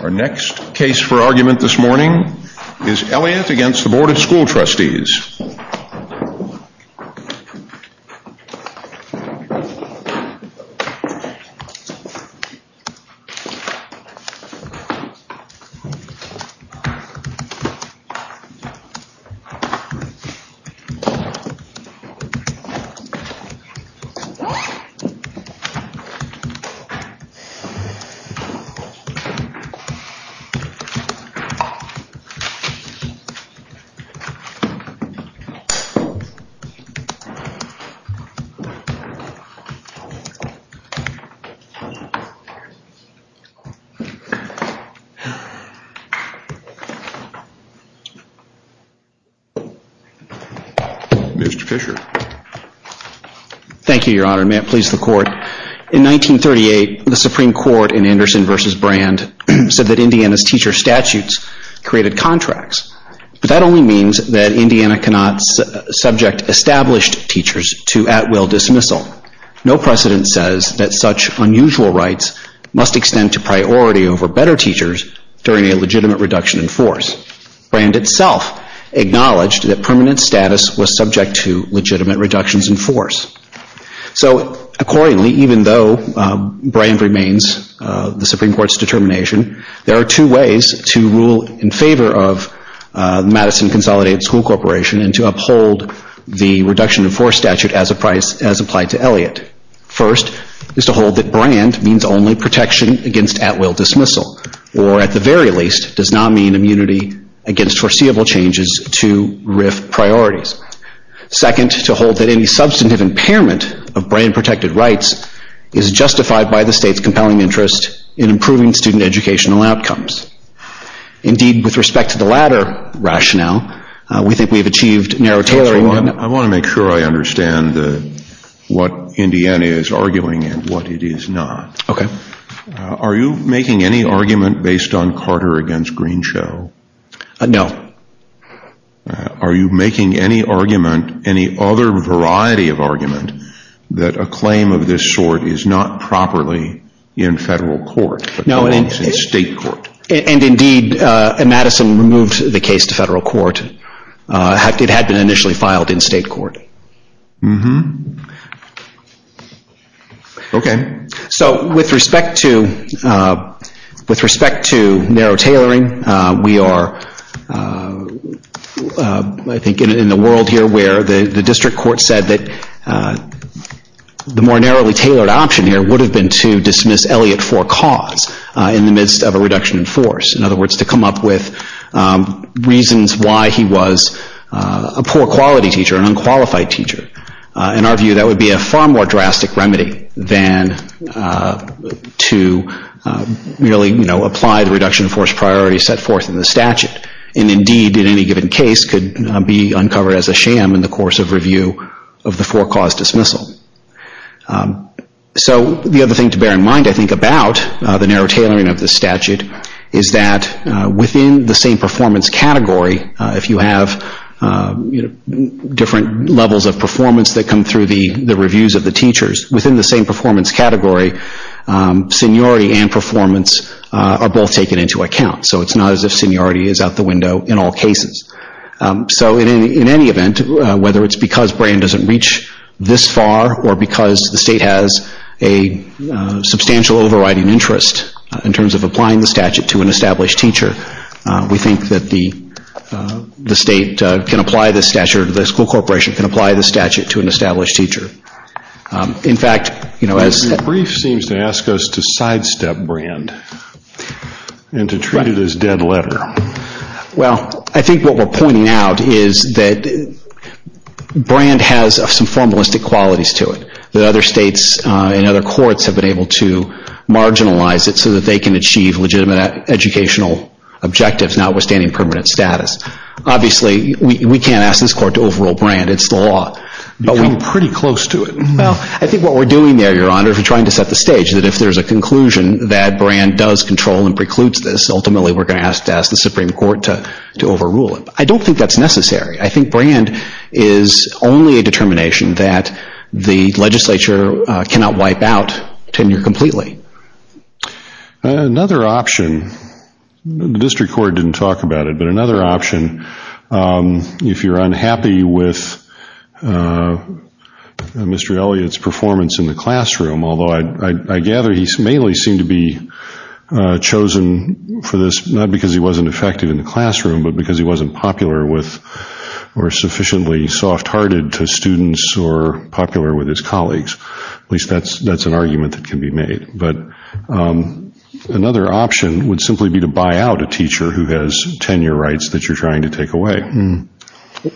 Our next case for argument this morning is Elliott against the Board of School Trustees. Mr. Fisher. Thank you, Your Honor. May it please the court, in 1938, the Supreme Court in Anderson v. Brand said that Indiana's teacher statutes created contracts. But that only means that Indiana cannot subject established teachers to at-will dismissal. No precedent says that such unusual rights must extend to priority over better teachers during a legitimate reduction in force. Brand itself acknowledged that permanent status was subject to legitimate reductions in force. So, accordingly, even though Brand remains the Supreme Court's determination, there are two ways to rule in favor of Madison Consolidated School Corporation and to uphold the reduction in force statute as applied to Elliott. First, is to hold that Brand means only protection against at-will dismissal. Or, at the very least, does not mean immunity against foreseeable changes to RIF priorities. Second, to hold that any substantive impairment of Brand-protected rights is justified by the state's compelling interest in improving student educational outcomes. Indeed, with respect to the latter rationale, we think we have achieved narrow tailoring. I want to make sure I understand what Indiana is arguing and what it is not. Are you making any argument based on Carter against Greenshell? No. Are you making any argument, any other variety of argument, that a claim of this sort is not properly in federal court, but is in state court? And, indeed, Madison removed the case to federal court. It had been initially With respect to narrow tailoring, we are, I think, in a world here where the district court said that the more narrowly tailored option here would have been to dismiss Elliott for cause in the midst of a reduction in force. In other words, to come up with reasons why he was a poor quality teacher, an unqualified teacher. In our view, that would be a far drastic remedy than to really apply the reduction in force priority set forth in the statute. And, indeed, in any given case could be uncovered as a sham in the course of review of the for cause dismissal. So the other thing to bear in mind, I think, about the narrow tailoring of the statute is that within the same performance category, if you have different levels of performance that come through the reviews of the teachers, within the same performance category, seniority and performance are both taken into account. So it's not as if seniority is out the window in all cases. So in any event, whether it's because Brand doesn't reach this far or because the state has a substantial overriding interest in terms of applying the statute to an established teacher, we think that the state can apply this statute, or the school corporation can apply this statute, to an established teacher. In fact, you know, as... The brief seems to ask us to sidestep Brand and to treat it as dead letter. Well, I think what we're pointing out is that Brand has some formalistic qualities to it, that other states and other courts have been able to marginalize it so that they can achieve legitimate educational objectives notwithstanding permanent status. Obviously, we can't ask this court to overrule Brand. It's the law. We've come pretty close to it. Well, I think what we're doing there, Your Honor, is we're trying to set the stage that if there's a conclusion that Brand does control and precludes this, ultimately we're going to have to ask the Supreme Court to overrule it. I don't think that's necessary. I think Brand is only a determination that the legislature cannot wipe out tenure completely. Another option, the district court didn't talk about it, but another option, if you're unhappy with Mr. Elliott's performance in the classroom, although I gather he mainly seemed to be chosen for this not because he wasn't effective in the classroom, but because he wasn't popular with, or sufficiently soft-hearted to students, or popular with his colleagues. At least that's an argument that can be made. Another option would simply be to buy out a teacher who has tenure rights that you're trying to take away.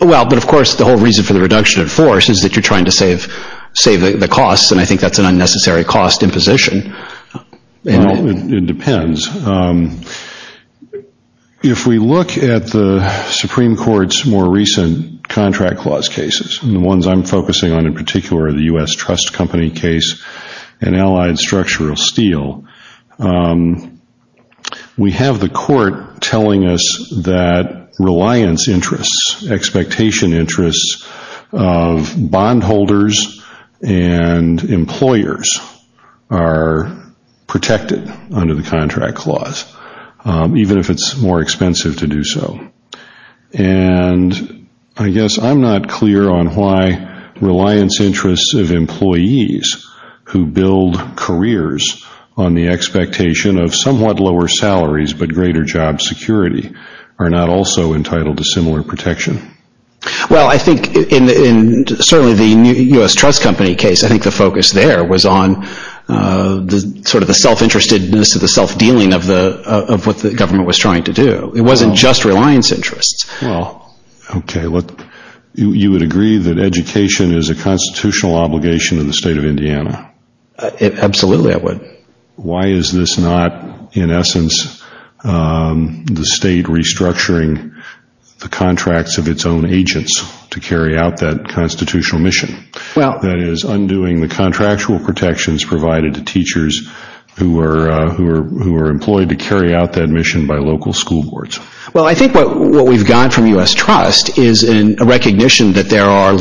Well, but of course, the whole reason for the reduction of force is that you're trying to save the costs, and I think that's an unnecessary cost imposition. It depends. If we look at the Supreme Court's more recent contract clause cases, the ones I'm focusing on in particular, the U.S. Trust Company case and Allied Structural Steel, we have the court telling us that reliance interests, expectation interests of bondholders and employers are protected under the contract clause, even if it's more expensive to do so. And I guess I'm not clear on why reliance interests of employees who build careers on the expectation of somewhat lower salaries but greater job security are not also entitled to similar protection. Well, I think in certainly the U.S. Trust Company case, I think the focus there was on sort of the self-interestedness or the self-dealing of what the government was trying to do. It wasn't just reliance interests. Well, okay. You would agree that education is a constitutional obligation of the state of Indiana? Absolutely, I would. Why is this not, in essence, the state restructuring the contracts of its own agents to carry out that constitutional mission? That is, undoing the contractual protections provided to teachers who are employed to carry out that mission by local school boards. Well, I think what we've got from U.S. Trust is a recognition that there are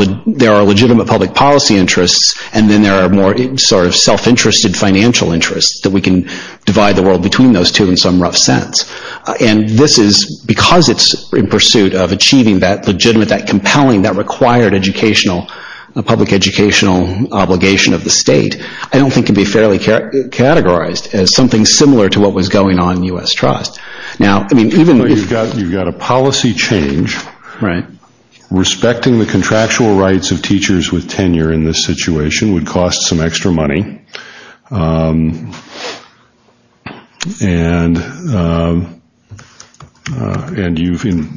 legitimate public policy interests and then there are more sort of self-interested financial interests that we can divide the world between those two in some rough sense. And this is because it's in pursuit of achieving that legitimate, that compelling, that required educational, public educational obligation of the state, I don't think can be fairly categorized as something similar to what was going on in U.S. Trust. Now, I mean, even if you've got a policy change, respecting the contractual rights of teachers with tenure in this situation would cost some extra money. And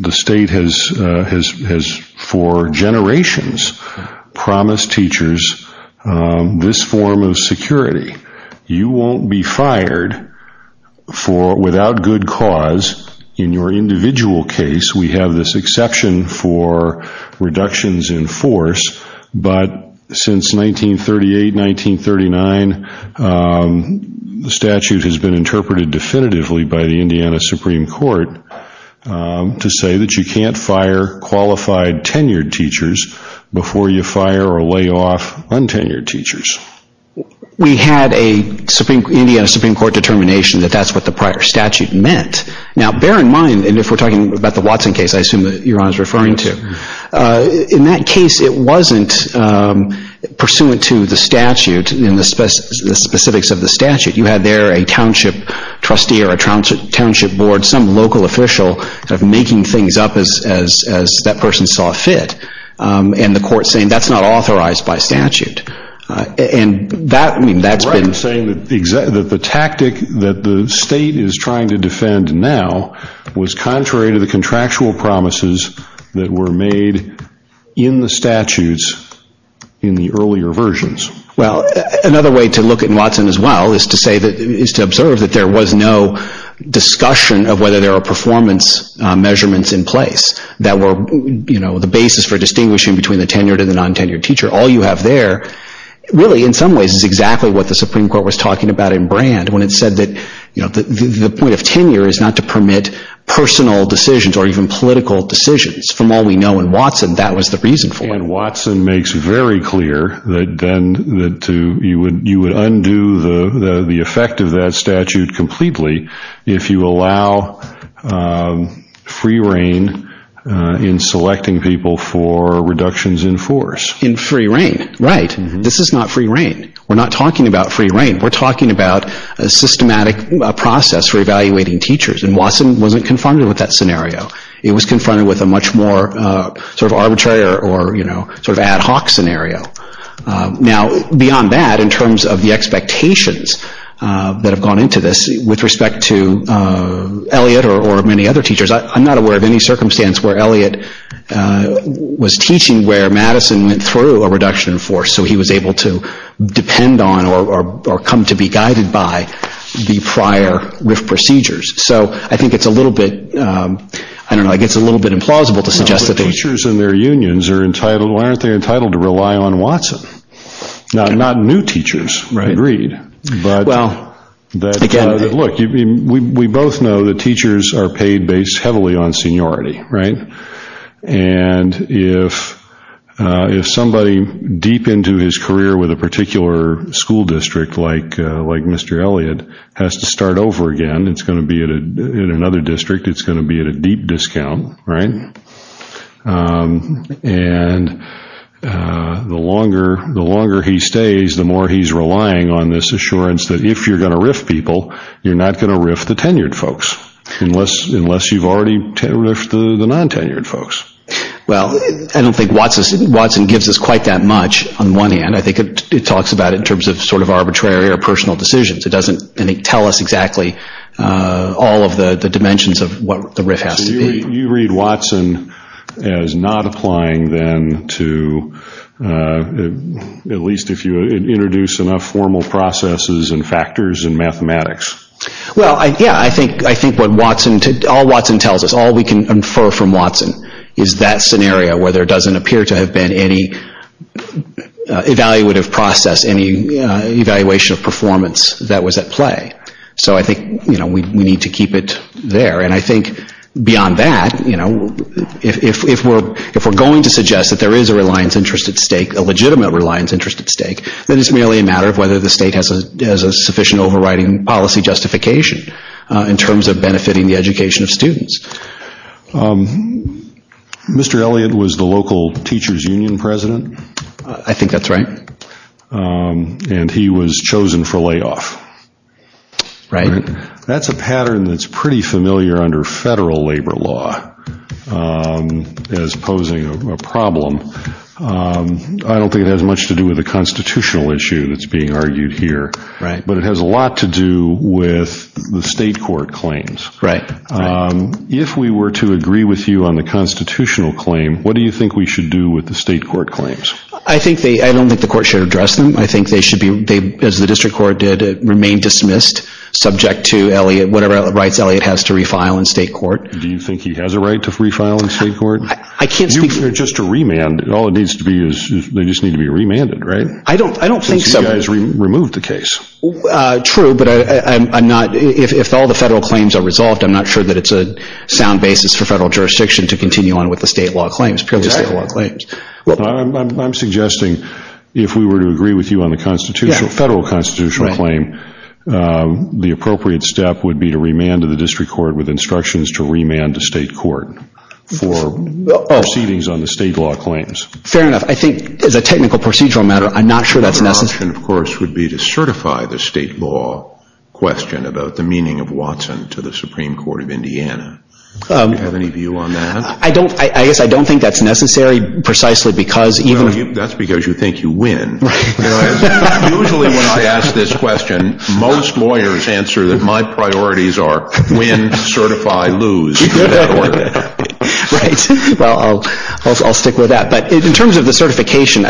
the state has for generations promised teachers this form of security. You won't be fired without good cause in your individual case. We have this exception for reductions in force, but since 1938, 1939, the statute has been interpreted definitively by the Indiana Supreme Court to say that you can't fire qualified tenured teachers before you fire or lay off untenured teachers. We had a Indiana Supreme Court determination that that's what the prior statute meant. Now bear in mind, and if we're talking about the Watson case, I assume that you're referring to, in that case it wasn't pursuant to the statute and the specifics of the statute. You had there a township trustee or a township board, some local official, making things up as that person saw fit, and the court saying that's not authorized by statute. And that, I mean, that's been... Right. I'm saying that the tactic that the state is trying to defend now was contrary to the contractual promises that were made in the statutes in the earlier versions. Well, another way to look at Watson as well is to say that, is to observe that there was no discussion of whether there were performance measurements in place that were the basis for distinguishing between the tenured and the untenured teacher. All you have there, really in some ways, is exactly what the Supreme Court was talking about in Brand when it said that the point of tenure is not to permit personal decisions or even political decisions. From all we know in Watson, that was the reason for it. And Watson makes it very clear that you would undo the effect of that statute completely if you allow free rein in selecting people for reductions in force. In free rein. Right. This is not free rein. We're not talking about free rein. We're talking about a systematic process for evaluating teachers. And Watson wasn't confronted with that scenario. It was confronted with a much more sort of arbitrary or, you know, sort of ad hoc scenario. Now, beyond that, in terms of the expectations that have gone into this, with respect to Elliot or many other teachers, I'm not aware of any circumstance where Elliot was teaching where Madison went through a reduction in force so he was able to depend on or come to be guided by the prior RIF procedures. So I think it's a little bit, I don't know, I guess it's a little bit implausible to suggest that they... Teachers and their unions are entitled, well, aren't they entitled to rely on Watson? Now, not new teachers, agreed. But, look, we both know that teachers are paid based heavily on seniority, right? And if somebody deep into his career with a particular seniority in a school district, like Mr. Elliot, has to start over again, it's going to be in another district, it's going to be at a deep discount, right? And the longer he stays, the more he's relying on this assurance that if you're going to RIF people, you're not going to RIF the tenured folks, unless you've already RIFed the non-tenured folks. Well, I don't think Watson gives us quite that much on one hand. I think it talks about in terms of sort of arbitrary or personal decisions. It doesn't tell us exactly all of the dimensions of what the RIF has to be. You read Watson as not applying then to, at least if you introduce enough formal processes and factors and mathematics. Well, yeah, I think what Watson, all Watson tells us, all we can infer from Watson is that scenario where there doesn't appear to have been any evaluative process, any evaluation of performance that was at play. So I think, you know, we need to keep it there. And I think beyond that, you know, if we're going to suggest that there is a reliance interest at stake, a legitimate reliance interest at stake, then it's merely a matter of whether the state has a sufficient overriding policy justification in terms of benefiting the education of students. Mr. Elliott was the local teacher's union president. I think that's right. And he was chosen for layoff. That's a pattern that's pretty familiar under federal labor law as posing a problem. I don't think it has much to do with the constitutional issue that's being argued here, but it has a lot to do with the state court claims. Right. If we were to agree with you on the constitutional claim, what do you think we should do with the state court claims? I think they, I don't think the court should address them. I think they should be, as the district court did, remain dismissed, subject to Elliott, whatever rights Elliott has to refile in state court. Do you think he has a right to refile in state court? I can't speak for... Just to remand, all it needs to be is, they just need to be remanded, right? I don't think so. Since you guys removed the case. True, but I'm not, if all the federal claims are resolved, I'm not sure that it's a sound basis for federal jurisdiction to continue on with the state law claims, purely state law claims. I'm suggesting, if we were to agree with you on the constitutional, federal constitutional claim, the appropriate step would be to remand the district court with instructions to remand the state court for proceedings on the state law claims. Fair enough. I think, as a technical procedural matter, I'm not sure that's necessary. My suggestion, of course, would be to certify the state law question about the meaning of Watson to the Supreme Court of Indiana. Do you have any view on that? I don't, I guess I don't think that's necessary, precisely because even... That's because you think you win. Right. Usually, when I ask this question, most lawyers answer that my priorities are win, certify, lose. Right, well, I'll stick with that, but in terms of the certification,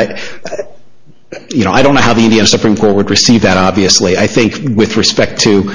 you know, I don't know how the Indiana Supreme Court would receive that, obviously. I think, with respect to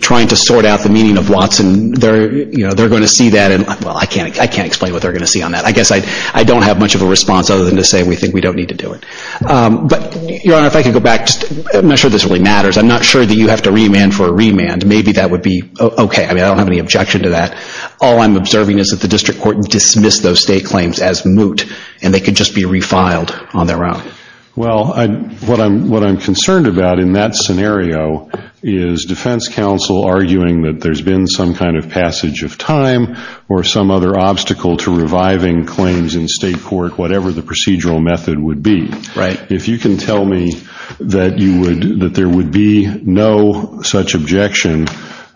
trying to sort out the meaning of Watson, they're, you know, they're going to see that and, well, I can't, I can't explain what they're going to see on that. I guess I, I don't have much of a response other than to say we think we don't need to do it. But, Your Honor, if I could go back, I'm not sure this really matters. I'm not sure that you have to remand for a remand. Maybe that would be okay. I mean, I don't have any objection to that. All I'm observing is that the district court dismissed those state claims as moot, and they could just be refiled on their own. Well, I, what I'm, what I'm concerned about in that scenario is defense counsel arguing that there's been some kind of passage of time or some other obstacle to reviving claims in state court, whatever the procedural method would be. Right. If you can tell me that you would, that there would be no such objection,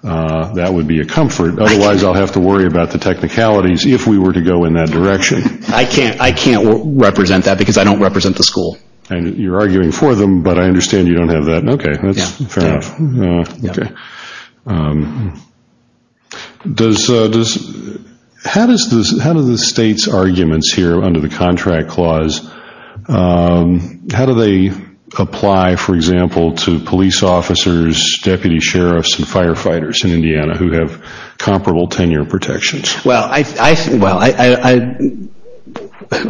that would be a comfort. Otherwise, I'll have to worry about the technicalities if we were to go in that direction. I can't, I can't represent that because I don't represent the school. You're arguing for them, but I understand you don't have that. Okay. That's fair enough. Yeah. Okay. Does, does, how does this, how do the state's arguments here under the contract clause, how do they apply, for example, to police officers, deputy sheriffs, and firefighters in Indiana who have comparable tenure protections? Well, I, I, well, I,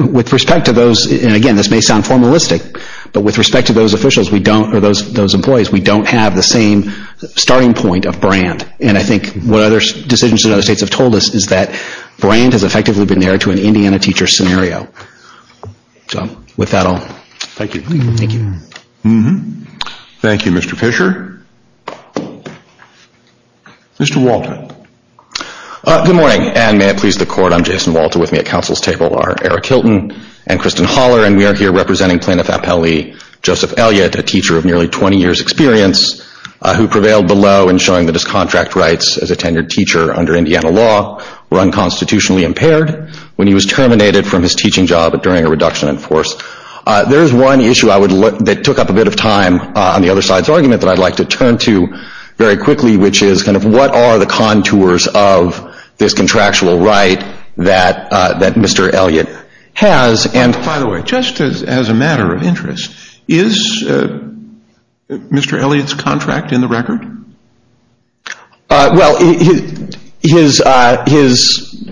I, with respect to those, and again, this may sound formalistic, but with respect to those officials, we don't, or those, those employees, we don't have the same starting point of brand. And I think what other decisions in other states have told us is that brand has effectively been there to an Indiana teacher scenario. So, with that, I'll. Thank you. Thank you. Thank you, Mr. Fisher. Mr. Walton. Good morning. And may it please the court, I'm Jason Walton. With me at council's table are Eric Hilton and Kristen Holler, and we are here representing Plaintiff Appellee Joseph Elliott, a teacher of nearly 20 years' experience who prevailed below in showing that his contract rights as a tenured teacher under Indiana law were unconstitutionally impaired when he was terminated from his teaching job during a reduction in force. There is one issue I would look, that took up a bit of time on the other side's argument that I'd like to turn to very quickly, which is kind of what are the contours of this contractual right that, that Mr. Elliott has. And by the way, just as, as a matter of interest, is Mr. Elliott's contract in the record? Well, his, his, his,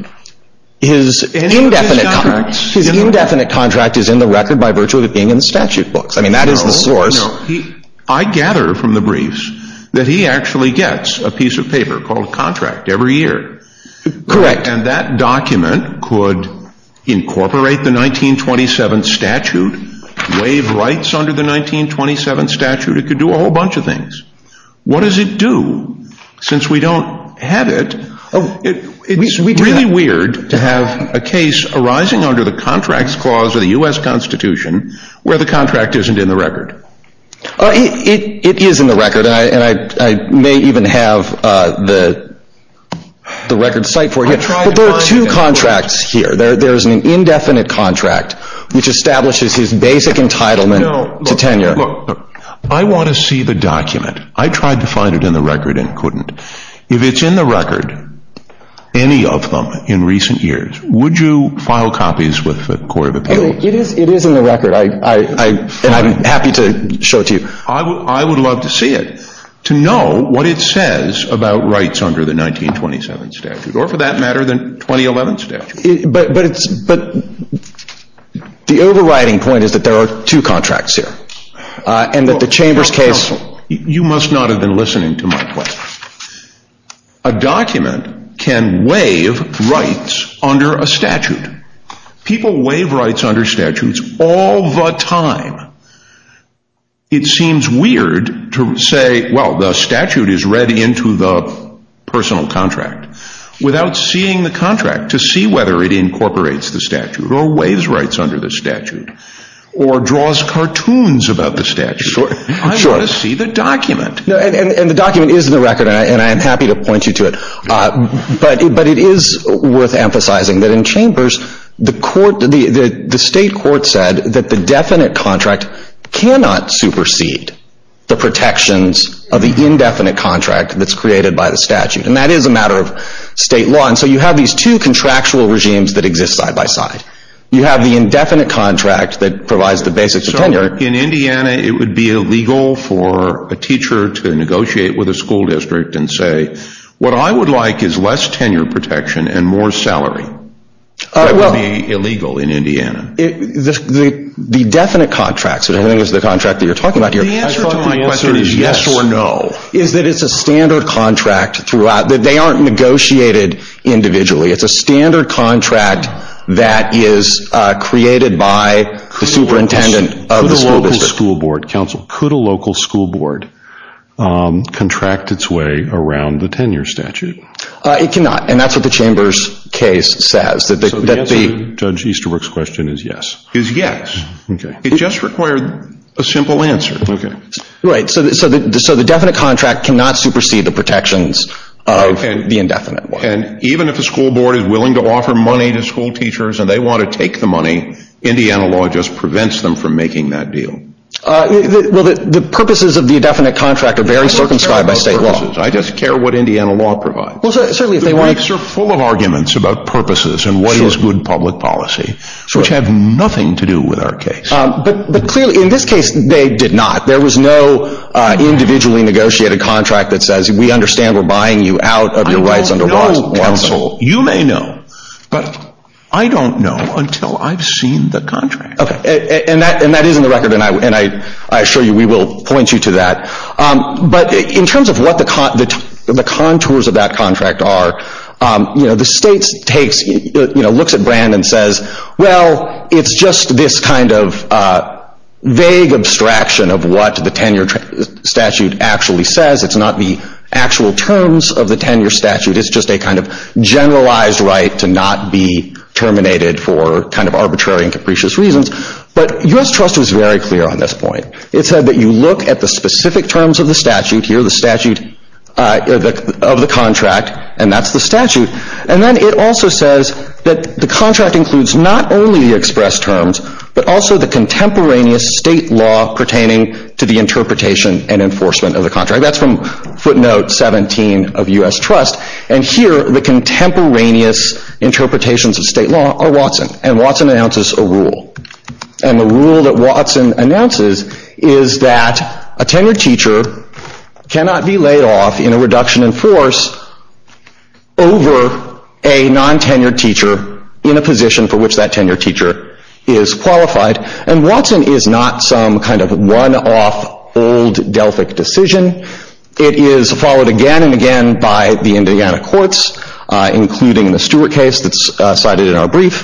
his indefinite, his indefinite contract is in the record by virtue of it being in the statute books. I mean, that is the source. No, no. He, I gather from the briefs that he actually gets a piece of paper called contract every year. Correct. And that document could incorporate the 1927 statute, waive rights under the 1927 statute. It could do a whole bunch of things. What does it do? Since we don't have it, it, it's really weird to have a case arising under the contracts clause of the U.S. Constitution where the contract isn't in the record. It, it, it is in the record and I, and I, I may even have the, the record site for you. I tried to find it in the record. But there are two contracts here. There, there is an indefinite contract which establishes his basic entitlement to tenure. No, look, look, look. I want to see the document. I tried to find it in the record and couldn't. If it's in the record, any of them in recent years, would you file copies with the Court of Appeals? It is, it is in the record. I, I, I, and I'm happy to show it to you. I would, I would love to see it. To know what it says about rights under the 1927 statute or for that matter the 2011 statute. But, but it's, but the overriding point is that there are two contracts here. And that the Chamber's case. You know, you must not have been listening to my question. A document can waive rights under a statute. People waive rights under statutes all the time. It seems weird to say, well, the statute is read into the personal contract without seeing the contract to see whether it incorporates the statute or waives rights under the statute or draws cartoons about the statute. Sure, sure. I want to see the document. And the document is in the record and I am happy to point you to it. But it is worth emphasizing that in Chambers, the court, the state court said that the definite contract cannot supersede the protections of the indefinite contract that's created by the statute. And that is a matter of state law. And so you have these two contractual regimes that exist side by side. You have the indefinite contract that provides the basics of tenure. In Indiana, it would be illegal for a teacher to negotiate with a school district and say, what I would like is less tenure protection and more salary. That would be illegal in Indiana. The definite contract, which I think is the contract that you're talking about here. The answer to my question is yes or no. Is that it's a standard contract throughout. They aren't negotiated individually. It's a standard contract that is created by the superintendent of the school district. Could a local school board contract its way around the tenure statute? It cannot. And that's what the Chambers case says. So the answer to Judge Easterbrook's question is yes? Is yes. It just required a simple answer. Right. So the definite contract cannot supersede the protections of the indefinite one. And even if a school board is willing to offer money to school teachers and they want to take the money, Indiana law just prevents them from making that deal. The purposes of the indefinite contract are very circumscribed by state law. I just care what Indiana law provides. The reefs are full of arguments about purposes and what is good public policy, which have nothing to do with our case. But clearly, in this case, they did not. There was no individually negotiated contract that says, we understand we're buying you out of your rights under Watt's counsel. You may know, but I don't know until I've seen the contract. And that is in the record and I assure you we will point you to that. But in terms of what the contours of that contract are, you know, the state looks at Brand and says, well, it's just this kind of vague abstraction of what the tenure statute actually says. It's not the actual terms of the tenure statute. It's just a kind of generalized right to not be terminated for kind of arbitrary and capricious reasons. But U.S. Trust was very clear on this point. It said that you look at the specific terms of the statute here, the statute of the contract, and that's the statute. And then it also says that the contract includes not only the expressed terms, but also the contemporaneous state law pertaining to the interpretation and enforcement of the contract. That's from footnote 17 of U.S. Trust. And here, the contemporaneous interpretations of state law are Watson. And Watson announces a rule. And the rule that Watson announces is that a tenured teacher cannot be laid off in a reduction in force over a non-tenured teacher in a position for which that tenured teacher is qualified. And Watson is not some kind of one-off old Delphic decision. It is followed again and again by the Indiana courts, including the Stewart case that's cited in our brief.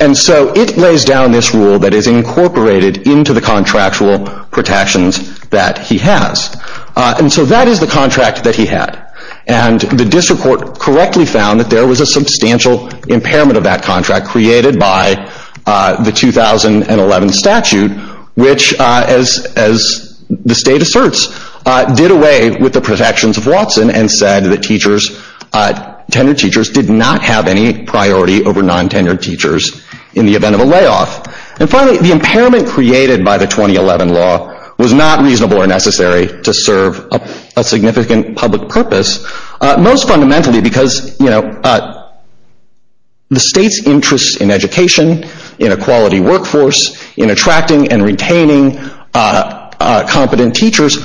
And so it lays down this rule that is incorporated into the contractual protections that he has. And so that is the contract that he had. And the district court correctly found that there was a substantial impairment of that 2011 statute, which as the state asserts, did away with the protections of Watson and said that teachers, tenured teachers, did not have any priority over non-tenured teachers in the event of a layoff. And finally, the impairment created by the 2011 law was not reasonable or necessary to serve a significant public purpose, most fundamentally because, you know, the state's interest in force, in attracting and retaining competent teachers,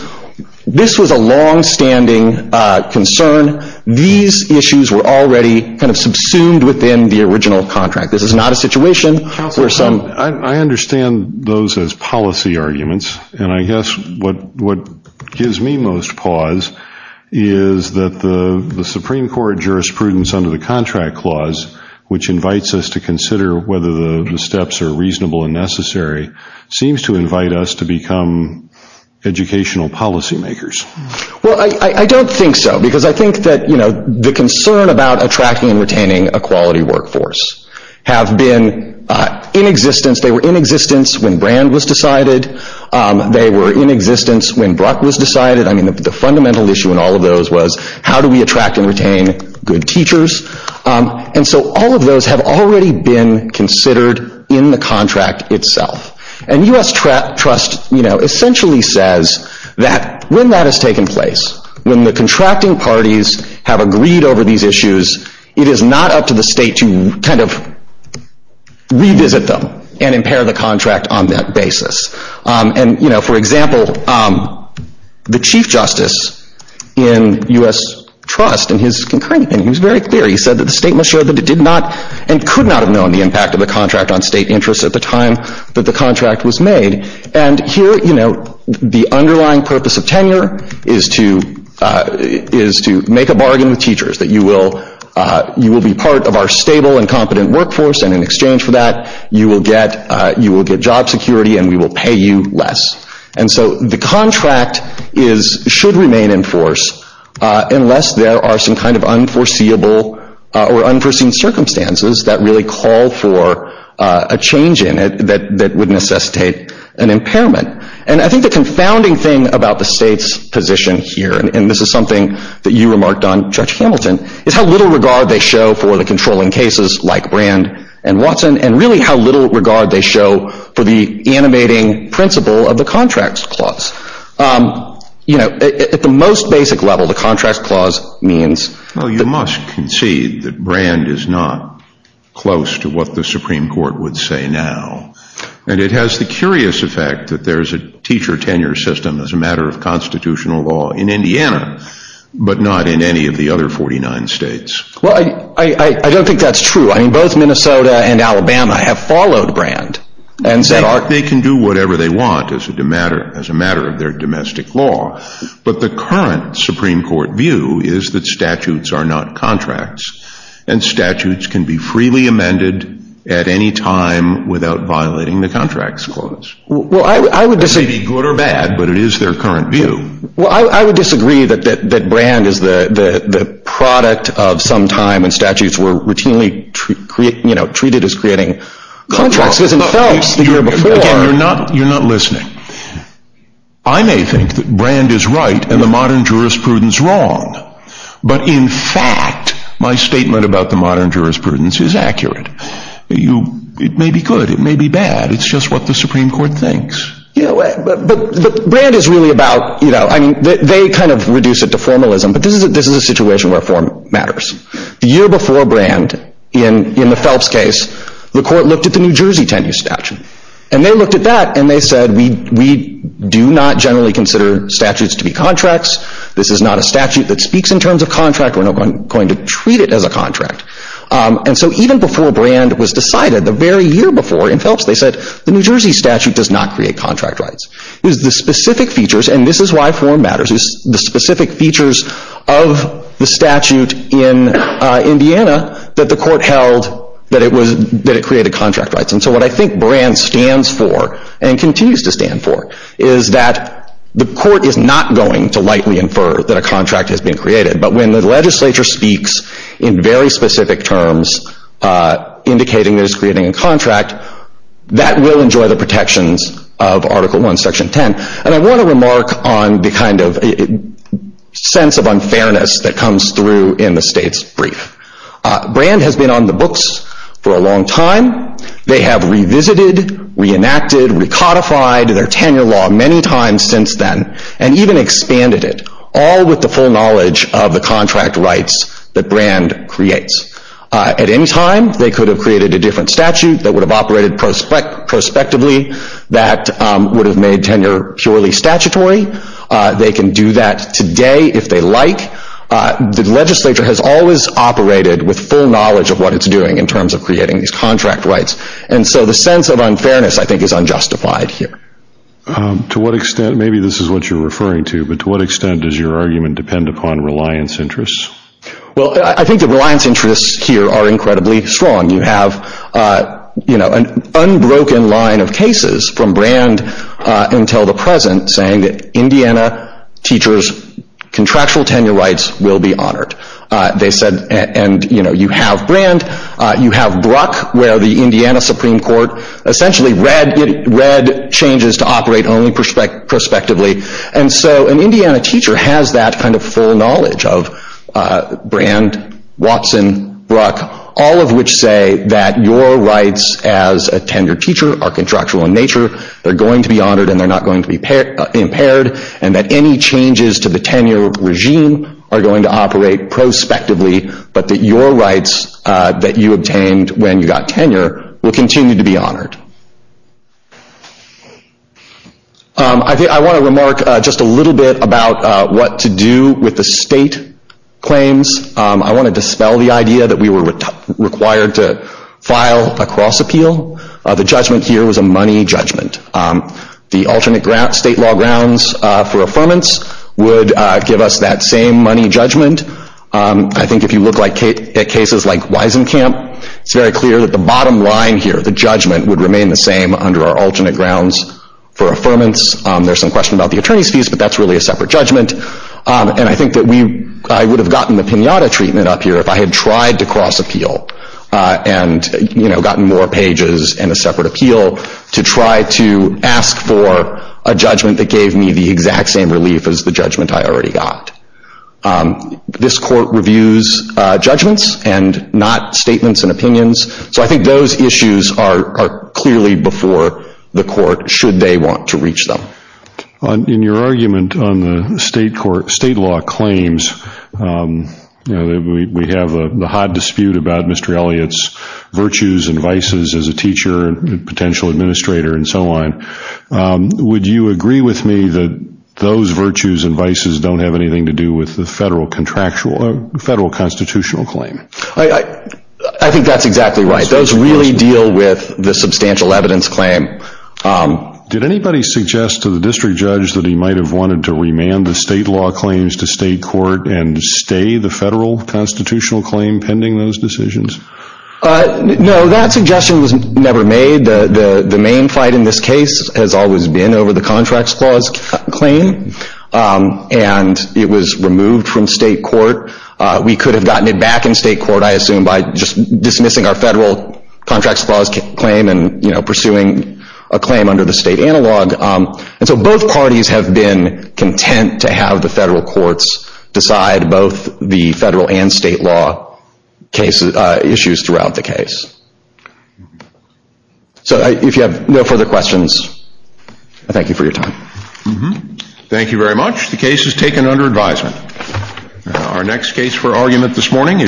this was a longstanding concern. These issues were already kind of subsumed within the original contract. This is not a situation where some... I understand those as policy arguments, and I guess what gives me most pause is that the Supreme Court jurisprudence under the contract clause, which invites us to consider whether the steps are reasonable and necessary, seems to invite us to become educational policy makers. Well, I don't think so, because I think that, you know, the concern about attracting and retaining a quality workforce have been in existence. They were in existence when Brand was decided. They were in existence when Bruck was decided. I mean, the fundamental issue in all of those was how do we attract and retain good teachers? And so all of those have already been considered in the contract itself. And U.S. Trust, you know, essentially says that when that has taken place, when the contracting parties have agreed over these issues, it is not up to the state to kind of revisit them and impair the contract on that basis. And you know, for example, the Chief Justice in U.S. Trust, in his concurrent, and he was very clear, he said that the state must show that it did not and could not have known the impact of the contract on state interests at the time that the contract was made. And here, you know, the underlying purpose of tenure is to make a bargain with teachers that you will be part of our stable and competent workforce, and in exchange for that, you will get job security and we will pay you less. And so the contract should remain in force unless there are some kind of unforeseeable or unforeseen circumstances that really call for a change in it that would necessitate an impairment. And I think the confounding thing about the state's position here, and this is something that you remarked on, Judge Hamilton, is how little regard they show for the controlling cases like Brand and Watson, and really how little regard they show for the animating principle of the Contracts Clause. You know, at the most basic level, the Contracts Clause means... Well, you must concede that Brand is not close to what the Supreme Court would say now, and it has the curious effect that there is a teacher tenure system as a matter of constitutional law in Indiana, but not in any of the other 49 states. Well, I don't think that's true. I mean, both Minnesota and Alabama have followed Brand and said... In fact, they can do whatever they want as a matter of their domestic law, but the current Supreme Court view is that statutes are not contracts, and statutes can be freely amended at any time without violating the Contracts Clause. Well, I would disagree... That may be good or bad, but it is their current view. Well, I would disagree that Brand is the product of some time when statutes were routinely treated as creating contracts, because in Phelps, the year before... Again, you're not listening. I may think that Brand is right and the modern jurisprudence wrong, but in fact, my statement about the modern jurisprudence is accurate. It may be good, it may be bad, it's just what the Supreme Court thinks. Yeah, but Brand is really about... They kind of reduce it to formalism, but this is a situation where form matters. The year before Brand, in the Phelps case, the court looked at the New Jersey Tenure Statute, and they looked at that and they said, we do not generally consider statutes to be contracts. This is not a statute that speaks in terms of contract. We're not going to treat it as a contract. And so even before Brand was decided, the very year before in Phelps, they said, the New Jersey Statute does not create contract rights. It was the specific features, and this is why form matters, the specific features of the statute in Indiana that the court held that it created contract rights. And so what I think Brand stands for and continues to stand for is that the court is not going to lightly infer that a contract has been created, but when the legislature speaks in very specific terms indicating that it's creating a contract, that will enjoy the protections of Article I, Section 10. And I want to remark on the kind of sense of unfairness that comes through in the state's brief. Brand has been on the books for a long time. They have revisited, reenacted, recodified their tenure law many times since then, and even expanded it, all with the full knowledge of the contract rights that Brand creates. At any time, they could have created a different statute that would have operated prospectively that would have made tenure purely statutory. They can do that today if they like. The legislature has always operated with full knowledge of what it's doing in terms of creating these contract rights. And so the sense of unfairness, I think, is unjustified here. To what extent, maybe this is what you're referring to, but to what extent does your argument depend upon reliance interests? Well, I think the reliance interests here are incredibly strong. You have an unbroken line of cases from Brand until the present saying that Indiana teachers' contractual tenure rights will be honored. They said, and you have Brand, you have Bruck where the Indiana Supreme Court essentially read changes to operate only prospectively. And so an Indiana teacher has that kind of full knowledge of Brand, Watson, Bruck, all of which say that your rights as a tenured teacher are contractual in nature, they're going to be honored and they're not going to be impaired, and that any changes to the tenure regime are going to operate prospectively, but that your rights that you obtained when you got tenure will continue to be honored. I want to remark just a little bit about what to do with the state claims. I want to dispel the idea that we were required to file a cross-appeal. The judgment here was a money judgment. The alternate state law grounds for affirmance would give us that same money judgment. I think if you look at cases like Weisenkamp, it's very clear that the bottom line here, the judgment, would remain the same under our alternate grounds for affirmance. There's some question about the attorney's fees, but that's really a separate judgment. I think that I would have gotten the pinata treatment up here if I had tried to cross-appeal and gotten more pages and a separate appeal to try to ask for a judgment that gave me the exact same relief as the judgment I already got. This court reviews judgments and not statements and opinions, so I think those issues are clearly before the court should they want to reach them. In your argument on the state law claims, we have the hot dispute about Mr. Elliott's virtues and vices as a teacher and potential administrator and so on. Would you agree with me that those virtues and vices don't have anything to do with the federal constitutional claim? I think that's exactly right. Those really deal with the substantial evidence claim. Did anybody suggest to the district judge that he might have wanted to remand the state law claims to state court and stay the federal constitutional claim pending those decisions? No, that suggestion was never made. The main fight in this case has always been over the contracts clause claim and it was removed from state court. We could have gotten it back in state court, I assume, by just dismissing our federal contracts clause claim and pursuing a claim under the state analog. So both parties have been content to have the federal courts decide both the federal and state law issues throughout the case. So if you have no further questions, I thank you for your time. Thank you very much. The case is taken under advisement. Our next case for argument this morning is